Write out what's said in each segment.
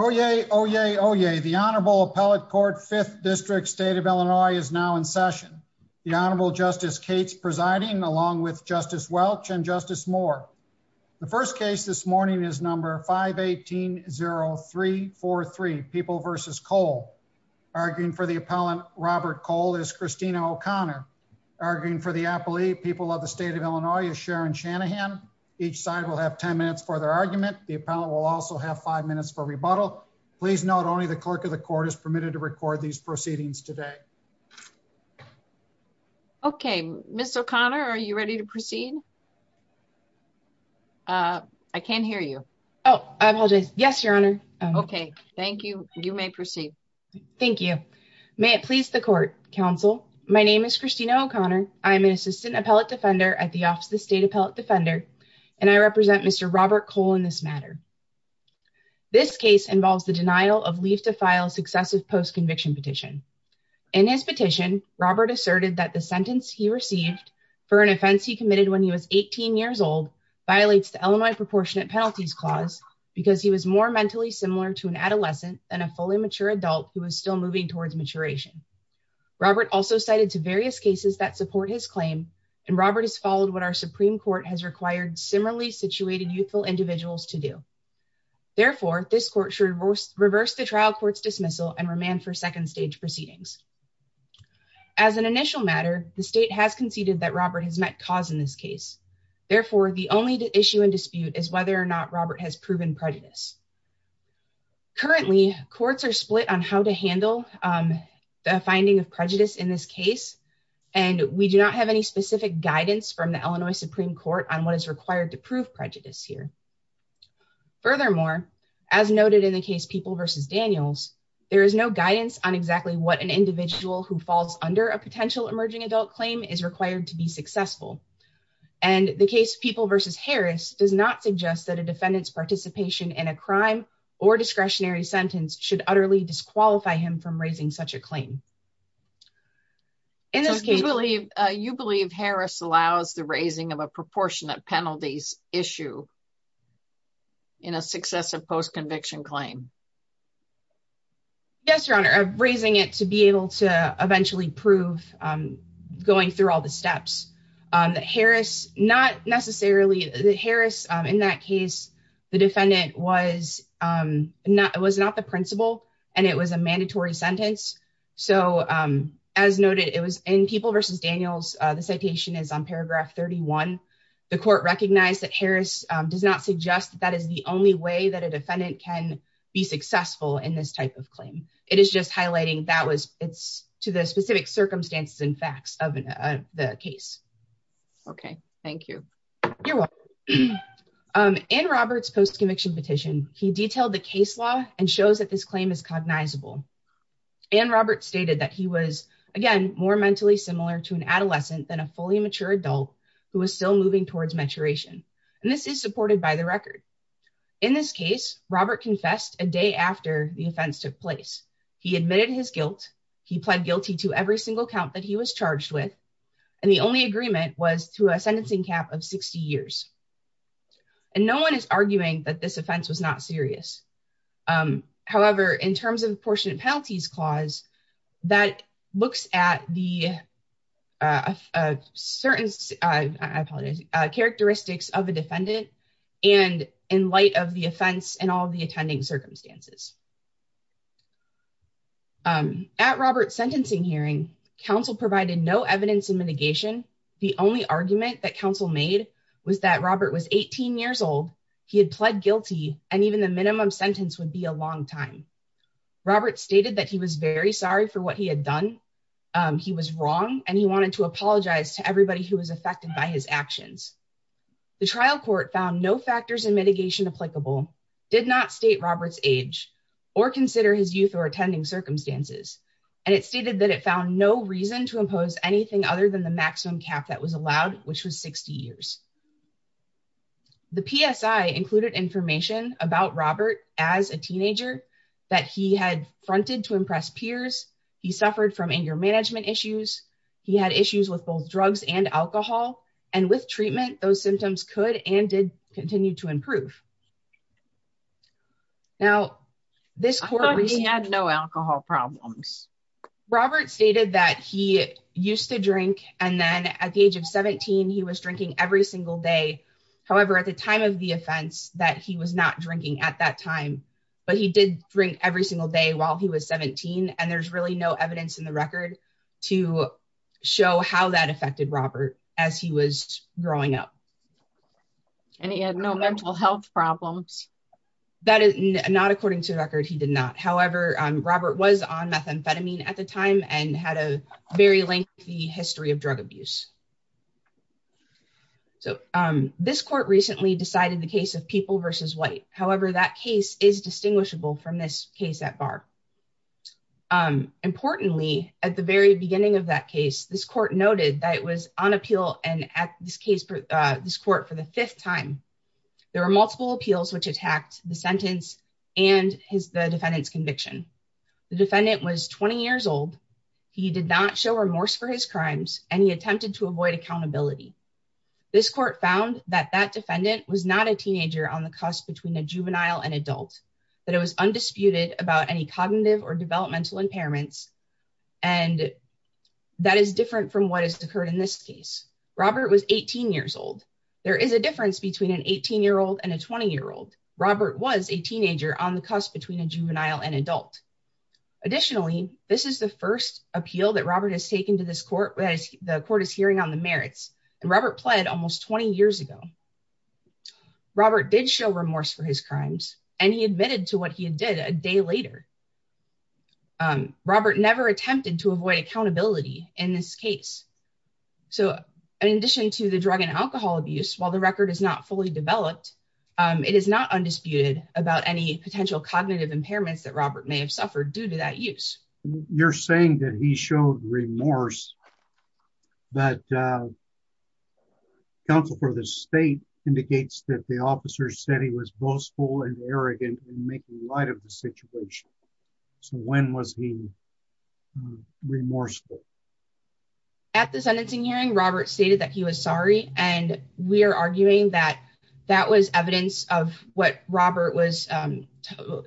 Oye, oye, oye. The Honorable Appellate Court, 5th District, State of Illinois, is now in session. The Honorable Justice Cates presiding, along with Justice Welch and Justice Moore. The first case this morning is number 518-0343, People v. Cole. Arguing for the appellant, Robert Cole, is Christina O'Connor. Arguing for the appellee, People of the State of Illinois, is Sharon Shanahan. Each side will have 10 minutes for their argument. The appellant will also have 5 minutes for rebuttal. Please note, only the Clerk of the Court is permitted to record these proceedings today. Okay, Ms. O'Connor, are you ready to proceed? I can't hear you. Oh, I apologize. Yes, Your Honor. Okay, thank you. You may proceed. Thank you. May it please the Court. Counsel, my name is Christina O'Connor. I am an Assistant Appellate Defender at the Office of the State Appellate Defender, and I represent Mr. Robert Cole in this matter. This case involves the denial of leave to file successive post-conviction petition. In his petition, Robert asserted that the sentence he received for an offense he committed when he was 18 years old violates the Illinois Proportionate Penalties Clause because he was more mentally similar to an adolescent than a fully mature adult who was still moving towards maturation. Robert also cited to various cases that support his claim, and Robert has followed what our Supreme Court has required similarly situated youthful individuals to do. Therefore, this Court should reverse the trial court's dismissal and remand for second stage proceedings. As an initial matter, the State has conceded that Robert has met cause in this case. Therefore, the only issue in dispute is whether or not Robert has proven prejudice. Currently, courts are split on how to handle the finding of prejudice in this case, and we do not have any specific guidance from the Illinois Supreme Court on what is required to prove prejudice here. Furthermore, as noted in the case People v. Daniels, there is no guidance on exactly what an individual who falls under a potential emerging adult claim is required to be successful, and the case People v. Harris does not suggest that a defendant's participation in a crime or discretionary sentence should utterly disqualify him from raising such a claim. In this case, you believe Harris allows the raising of a proportionate penalties issue in a successive post-conviction claim? Yes, Your Honor. Raising it to be able to eventually prove going through all the steps, that Harris, not necessarily, that Harris in that case, the defendant was not the principal and it was a mandatory sentence. So, as noted, it was in People v. Daniels. The citation is on paragraph 31. The court recognized that Harris does not suggest that that is the only way that a defendant can be successful in this type of claim. It is just highlighting that it's to the specific circumstances and facts of the case. Okay, thank you. You're welcome. In Robert's post-conviction petition, he detailed the case law and shows that this claim is cognizable. And Robert stated that he was, again, more mentally similar to an adolescent than a fully mature adult who was still moving towards maturation. And this is supported by the record. In this case, Robert confessed a day after the offense took place. He admitted his guilt. He pled guilty to every single count that he was charged with. And the only agreement was to a this offense was not serious. However, in terms of the apportionment penalties clause, that looks at the certain, I apologize, characteristics of the defendant and in light of the offense and all the attending circumstances. At Robert's sentencing hearing, counsel provided no evidence of mitigation. The only argument that and even the minimum sentence would be a long time. Robert stated that he was very sorry for what he had done. He was wrong and he wanted to apologize to everybody who was affected by his actions. The trial court found no factors and mitigation applicable, did not state Robert's age or consider his youth or attending circumstances. And it stated that it found no reason to impose anything other than the maximum cap that was allowed, which was 60 years. The PSI included information about Robert as a teenager that he had fronted to impress peers. He suffered from anger management issues. He had issues with both drugs and alcohol and with treatment, those symptoms could and did continue to improve. Now this court, he had no alcohol problems. Robert stated that he used to drink. And then at the age of 17, he was drinking every single day. However, at the time of the offense that he was not drinking at that time, but he did drink every single day while he was 17. And there's really no evidence in the record to show how that affected Robert as he was growing up. And he had no mental health problems. That is not according to record. He did not. However, Robert was on methamphetamine at the time and had a very lengthy history of drug abuse. So this court recently decided the case of people versus white. However, that case is distinguishable from this case at bar. Importantly, at the very beginning of that case, this court noted that it was on appeal. And at this case, this court for the fifth time, there were multiple appeals, which attacked the sentence and the defendant's conviction. The defendant was 20 years old. He did not show remorse for his crimes, and he attempted to avoid accountability. This court found that that defendant was not a teenager on the cusp between a juvenile and adult, that it was undisputed about any cognitive or developmental impairments. And that is different from what has occurred in this case. Robert was 18 years old. There is a difference between an 18 year old and a 20 year old. Robert was a teenager on the cusp between a juvenile and adult. Additionally, this is the first appeal that Robert has taken to this court, where the court is hearing on the merits. And Robert pled almost 20 years ago. Robert did show remorse for his crimes, and he admitted to what he did a day later. Robert never attempted to avoid accountability in this case. So in addition to the drug and alcohol abuse, while the record is not fully developed, it is not undisputed about any potential cognitive impairments that Robert may have suffered due to that use. You're saying that he showed remorse, but counsel for the state indicates that the officer said he was boastful and arrogant in making light of the situation. So when was he remorseful? At the sentencing hearing, Robert stated that he was sorry. And we're arguing that that was evidence of what Robert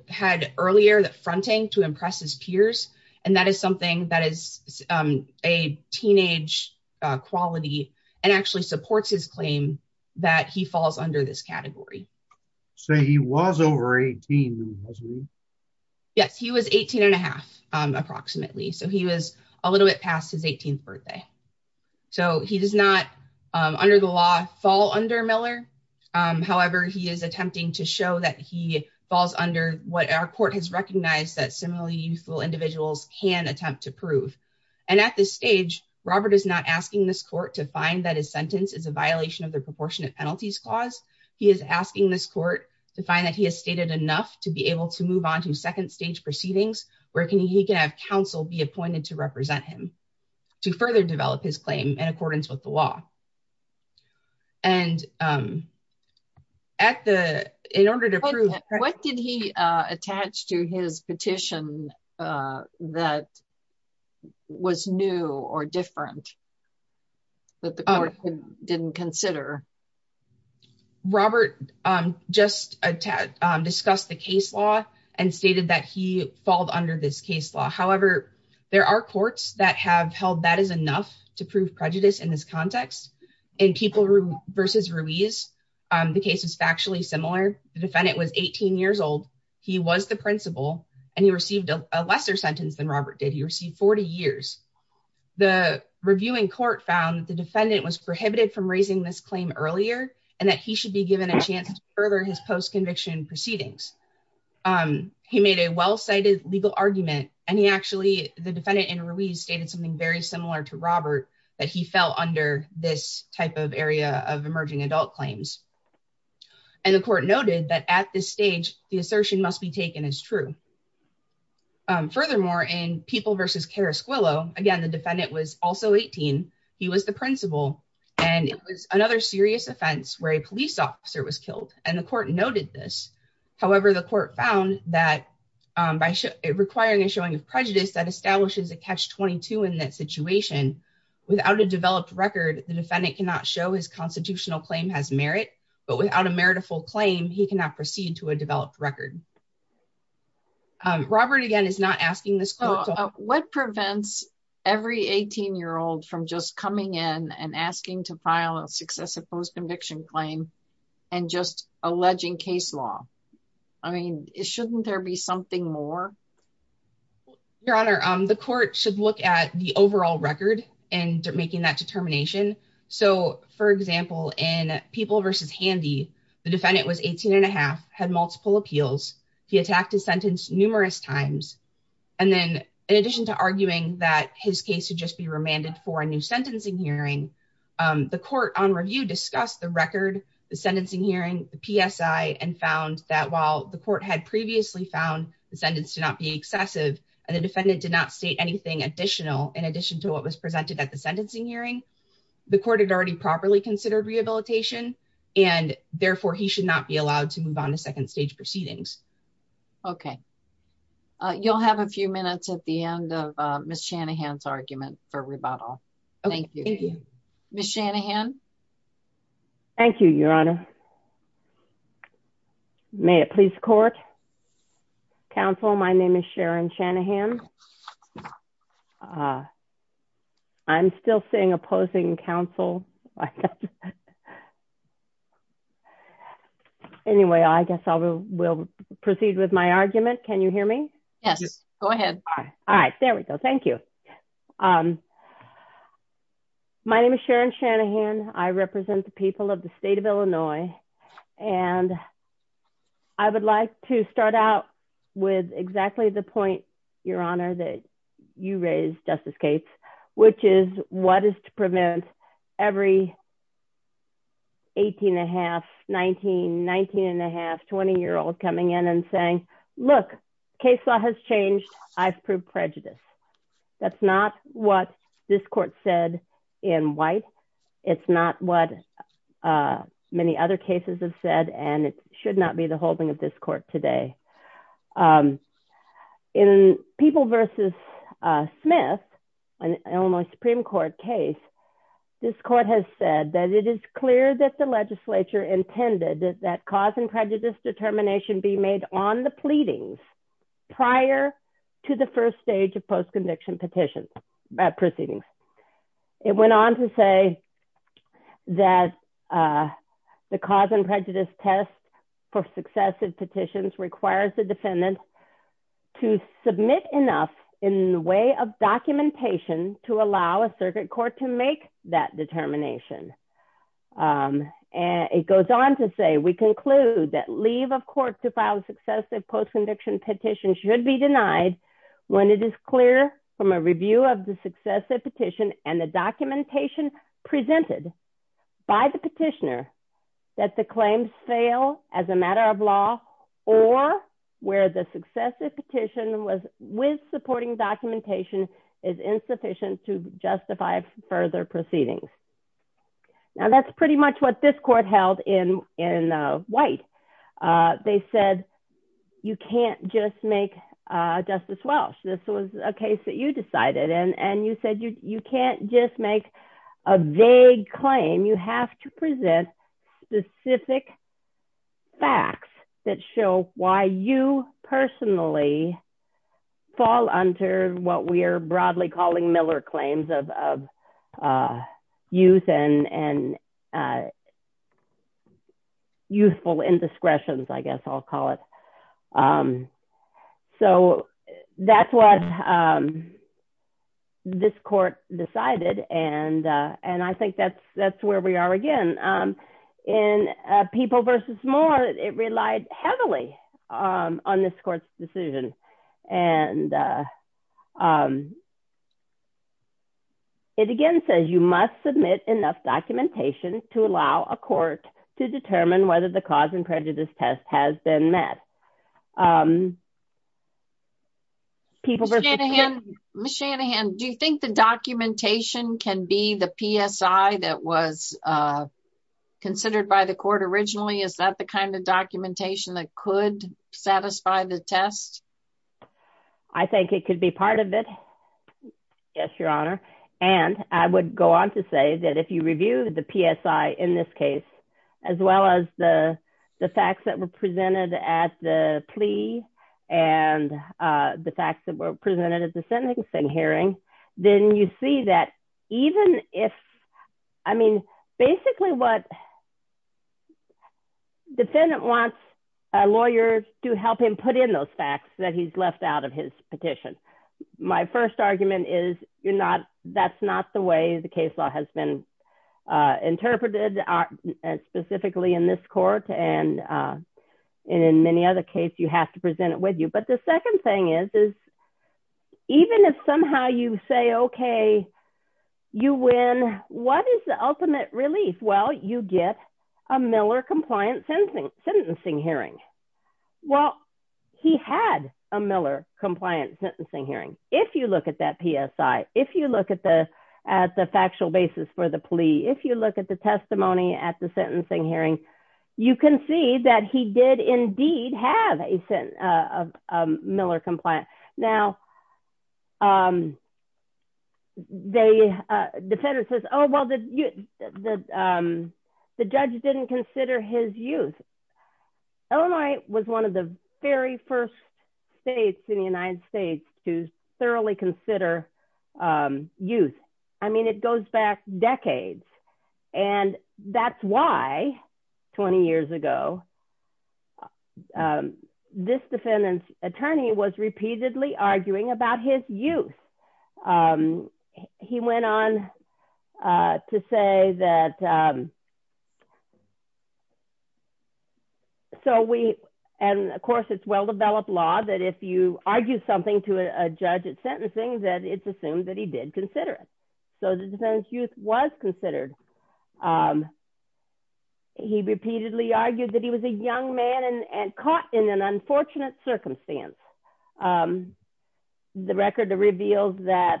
had earlier, that fronting to impress his peers. And that is something that is a teenage quality and actually supports his claim that he falls under this category. So he was over 18? Yes, he was 18 and a half, approximately. So he was a little bit past his 18th birthday. So he does not, under the law, fall under Miller. However, he is attempting to show that he falls under what our court has recognized that similarly youthful individuals can attempt to prove. And at this stage, Robert is not asking this court to find that his sentence is a violation of the Proportionate Penalties Clause. He is asking this court to find that he has stated enough to be able to move on to second stage proceedings, where he can have counsel be appointed to his claim in accordance with the law. And in order to prove... What did he attach to his petition that was new or different that the court didn't consider? Robert just discussed the case law and stated that he falled under this case law. However, there are courts that have held that is enough to prove prejudice in this context. In Keeple v. Ruiz, the case is factually similar. The defendant was 18 years old, he was the principal, and he received a lesser sentence than Robert did. He received 40 years. The reviewing court found the defendant was prohibited from raising this claim earlier, and that he should be given a chance to further his post-conviction proceedings. He made a well-cited legal argument, and he actually... The defendant in Ruiz stated something very similar to Robert, that he fell under this type of area of emerging adult claims. And the court noted that at this stage, the assertion must be taken as true. Furthermore, in Keeple v. Carrasquillo, again, the defendant was also 18, he was the principal, and it was another serious offense where a police officer was killed, and the court noted this. However, the court found that by requiring a showing of prejudice, that establishes a catch-22 in that situation. Without a developed record, the defendant cannot show his constitutional claim has merit, but without a meritful claim, he cannot proceed to a developed record. Robert, again, is not asking this... What prevents every 18-year-old from just coming in and asking to file a successive post-conviction claim and just alleging case law? I mean, shouldn't there be something more? Your Honor, the court should look at the overall record and making that determination. So, for example, in Keeple v. Handy, the defendant was 18 and a half, had multiple appeals. He attacked his sentence numerous times. And then, in addition to arguing that his case should just be remanded for a new sentencing hearing, the court on review discussed the record, the sentencing hearing, the PSI, and found that while the court had previously found the sentence to not be excessive, and the defendant did not state anything additional in addition to what was presented at the sentencing hearing, the court had already properly considered rehabilitation, and therefore, he should not be allowed to move on to second stage proceedings. Okay. You'll have a few minutes at the end of Ms. Shanahan's argument for rebuttal. Ms. Shanahan? Thank you, Your Honor. May it please the court? Counsel, my name is Sharon Shanahan. I'm still seeing opposing counsel. I guess. Anyway, I guess I will proceed with my argument. Can you hear me? Yes. Go ahead. All right. There we go. Thank you. My name is Sharon Shanahan. I represent the people of the state of Illinois. And I would like to start out with exactly the point, Your Honor, that you raised, Justice Cates, which is what is to prevent every 18 1⁄2, 19, 19 1⁄2, 20-year-old coming in and saying, look, case law has changed. I've proved prejudice. That's not what this court said in White. It's not what many other cases have said, and it should not be the holding of this court today. In People v. Smith, an Illinois Supreme Court case, this court has said that it is clear that the legislature intended that cause and prejudice determination be made on the pleadings prior to the first stage of post-conviction petitions proceedings. It went on to say that the cause and prejudice test for successive petitions requires the defendant to submit enough in the way of documentation to allow a circuit court to make that determination. It goes on to say, we conclude that leave of court to file successive post-conviction petitions should be denied when it is clear from a review of the successive petition and the documentation presented by the petitioner that the claims fail as a matter of law or where the successive petition with supporting documentation is insufficient to justify further proceedings. Now, that's pretty much what this court held in White. They said, you can't just make Justice a vague claim. You have to present specific facts that show why you personally fall under what we are broadly calling Miller claims of youthful indiscretions, I guess I'll call it. That's what this court decided, and I think that's where we are again. In People v. Moore, it relied heavily on this court's decision. It again says, you must submit enough documentation to allow a court to determine whether the cause and prejudice test has been met. Ms. Shanahan, do you think the documentation can be the PSI that was considered by the court originally? Is that the kind of documentation that could satisfy the test? I think it could be part of it. Yes, Your Honor. I would go on to say that if you review the PSI in this case, as well as the facts that were presented at the plea and the facts that were presented at the sentencing hearing, then you see that even if... Basically, what defendant wants a lawyer to help him put in those facts that he's left out of his petition. My first argument is that's not the way the case law has been interpreted specifically in this court. In many other cases, you have to present it with you. The second thing is, even if somehow you say, okay, you win, what is the ultimate relief? Well, you get a Miller-compliant sentencing hearing. Well, he had a Miller-compliant sentencing hearing. If you look at that PSI, if you look at the factual basis for the plea, if you look at the testimony at the sentencing hearing, you can see that he did indeed have a Miller-compliant. Now, the defendant says, oh, well, the judge didn't consider his youth. Illinois was one of the very first states in the United States to thoroughly consider youth. I mean, it goes back about his youth. He went on to say that... Of course, it's well-developed law that if you argue something to a judge at sentencing, that it's assumed that he did consider it. So the defendant's youth was considered. He repeatedly argued that he was a young man and caught in an unfortunate circumstance. The record reveals that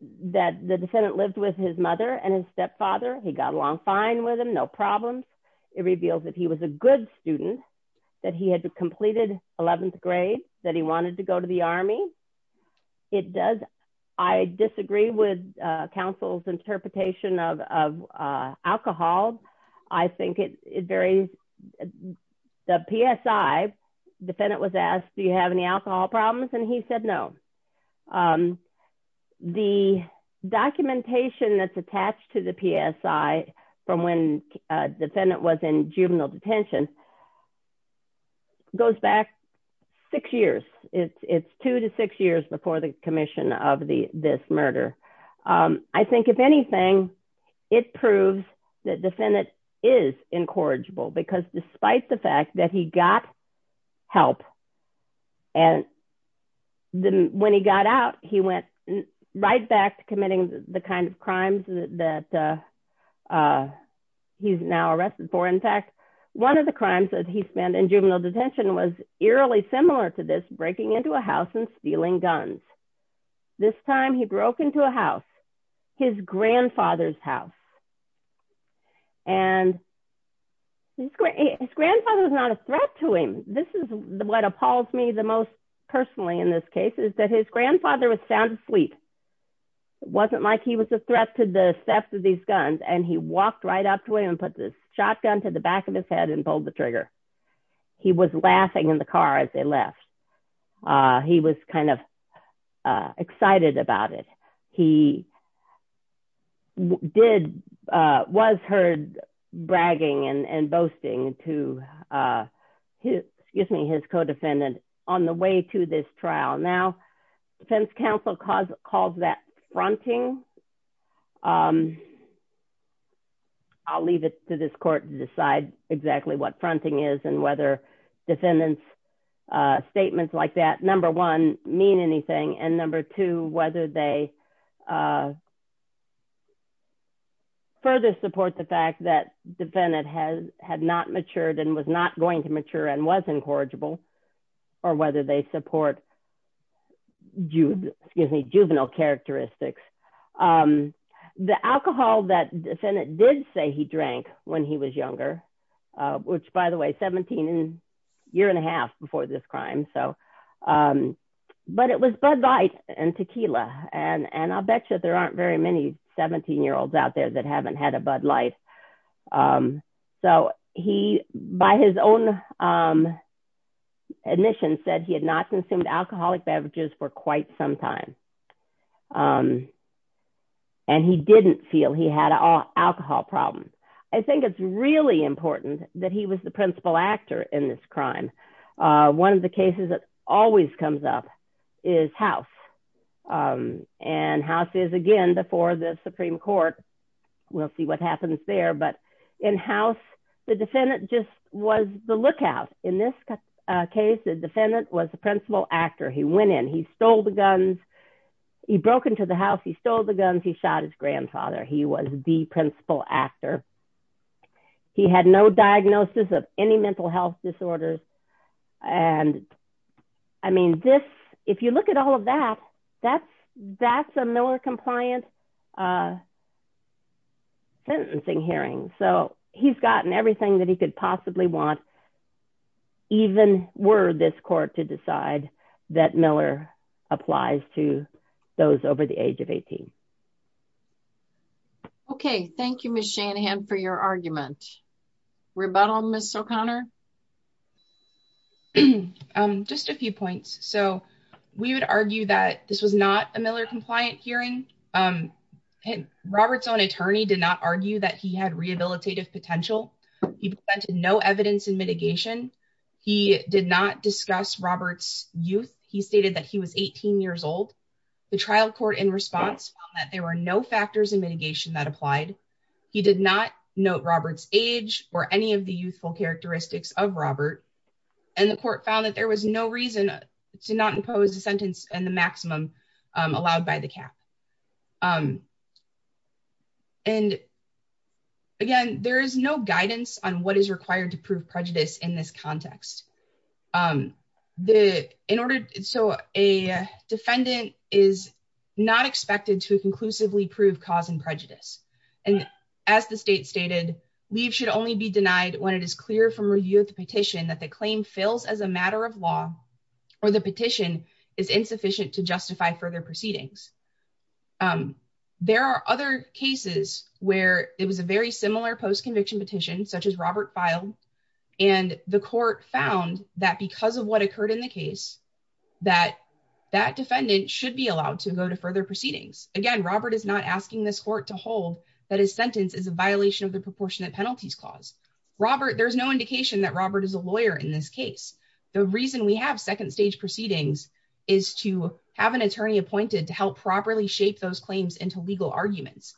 the defendant lived with his mother and his stepfather. He got along fine with him, no problems. It reveals that he was a good student, that he had completed 11th grade, that he wanted to go to the army. I disagree with alcohol. I think it varies. The PSI, defendant was asked, do you have any alcohol problems? And he said, no. The documentation that's attached to the PSI from when the defendant was in juvenile detention goes back six years. It's two to six years before the commission of this murder. I think if anything, it proves that defendant is incorrigible because despite the fact that he got help and when he got out, he went right back to committing the kind of crimes that he's now arrested for. In fact, one of the crimes that he spent in juvenile detention was eerily similar to this, breaking into a house and stealing guns. This time he broke into a house, his grandfather's house. And his grandfather was not a threat to him. This is what appalls me the most personally in this case is that his grandfather was sound asleep. It wasn't like he was a threat to the theft of these guns. And he walked right up to him and put the shotgun to the back of his head and pulled the trigger. He was laughing in the car as they left. He was kind of excited about it. He was heard bragging and boasting to his co-defendant on the way to this trial. Now, counsel calls that fronting. I'll leave it to this court to decide exactly what fronting is and whether defendant's statements like that, number one, mean anything. And number two, whether they further support the fact that defendant had not matured and was not going to mature and was incorrigible or whether they support juvenile characteristics. The alcohol that defendant did say he drank when he was younger, which by the way, 17 and a year and a half before this crime. So, but it was Bud Light and tequila. And I'll bet you there aren't very many 17-year-olds out there that haven't had a Bud Light. So, he, by his own admission said he had not consumed alcoholic beverages for quite some time. And he didn't feel he had an alcohol problem. I think it's really important that he was the Supreme Court. We'll see what happens there, but in house, the defendant just was the lookout. In this case, the defendant was the principal actor. He went in, he stole the guns, he broke into the house, he stole the guns, he shot his grandfather. He was the principal actor. He had no diagnosis of any mental health disorders. And I mean, this, if you look at all that, that's a Miller-compliant sentencing hearing. So, he's gotten everything that he could possibly want, even were this court to decide that Miller applies to those over the age of 18. Okay. Thank you, Ms. Shanahan, for your argument. Rebuttal, Ms. O'Connor? Just a few points. So, we would argue that this was not a Miller-compliant hearing. Robert's own attorney did not argue that he had rehabilitative potential. He presented no evidence in mitigation. He did not discuss Robert's youth. He stated that he was 18 years old. The trial court, in response, found that there were no factors in mitigation that applied. He did not note Robert's age or any of the youthful characteristics of Robert. And the court found that there was no reason to not impose the sentence and the maximum allowed by the cap. And, again, there is no guidance on what is required to prove prejudice in this context. So, a defendant is not expected to conclusively prove cause and prejudice. And, as the state stated, leave should only be denied when it is clear from review of the petition that the claim fails as a matter of law or the petition is insufficient to justify further proceedings. There are other cases where it was a very similar post-conviction petition, such as Robert filed, and the court found that because of what occurred in the case, that that defendant should be allowed to go to further proceedings. Again, Robert is not asking this court to hold that his sentence is a violation of the proportionate penalties clause. Robert, there's no indication that Robert is a lawyer in this case. The reason we have second stage proceedings is to have an attorney appointed to help properly shape those claims into legal arguments.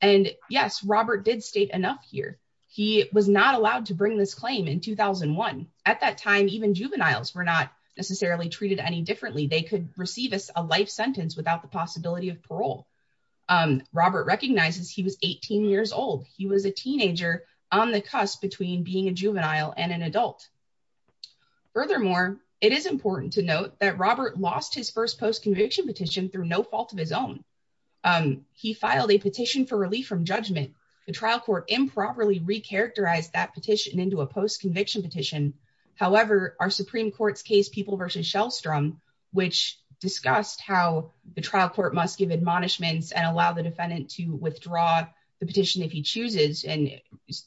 And, yes, Robert did state enough here. He was not allowed to bring this claim in 2001. At that time, even juveniles were not necessarily treated any differently. They could receive a life sentence without the possibility of parole. Robert recognizes he was 18 years old. He was a teenager on the cusp between being a juvenile and an adult. Furthermore, it is important to note that Robert lost his first post-conviction petition through no fault of his own. He filed a petition for relief from judgment. The trial court improperly recharacterized that petition into a post-conviction petition. However, our Supreme Court's case, People v. Shellstrom, which discussed how the trial court must give admonishments and allow the defendant to withdraw the petition if he chooses and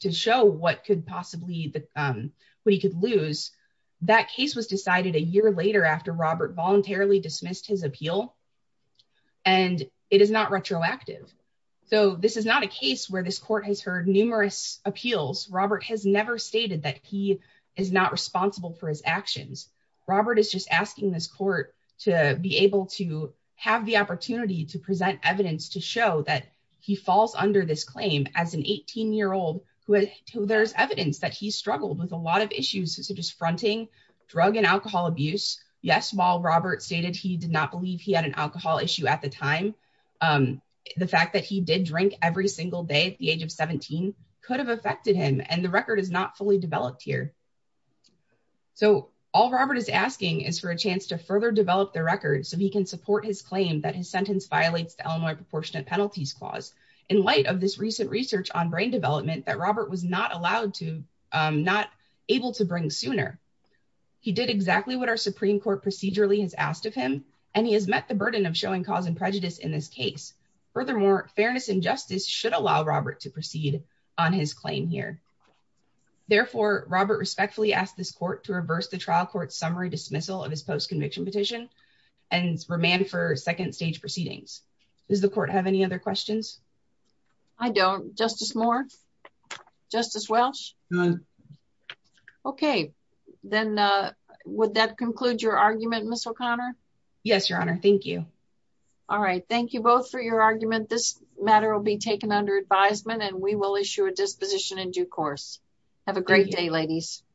to show what he could lose, that case was decided a year later after Robert voluntarily dismissed his appeal. And it is not retroactive. So this is not a case where this court has heard numerous appeals. Robert has never stated that he is not responsible for his actions. Robert is just asking this court to be able to have the opportunity to present evidence to show that he falls under this claim as an 18-year-old who there's evidence that he struggled with a lot of issues such as fronting drug and alcohol abuse. Yes, while Robert stated he did not believe he had an alcohol issue at the time, the fact that he did drink every single day at the age of 17 could have affected him, and the record is not fully developed here. So all Robert is asking is for a chance to further develop the record so he can support his claim that his sentence violates the Illinois Proportionate Penalties Clause. In light of this recent research on brain development that Robert was not allowed not able to bring sooner, he did exactly what our Supreme Court procedurally has asked of him, and he has met the burden of showing cause and prejudice in this case. Furthermore, fairness and justice should allow Robert to proceed on his claim here. Therefore, Robert respectfully asked this court to reverse the trial court's summary dismissal of his post-conviction petition and remand for second stage proceedings. Does the court have any other questions? I don't. Justice Moore? Justice Welsh? None. Okay, then would that conclude your argument, Ms. O'Connor? Yes, Your Honor. Thank you. All right. Thank you both for your argument. This matter will be taken under advisement, and we will issue a disposition in due course. Have a great day, ladies.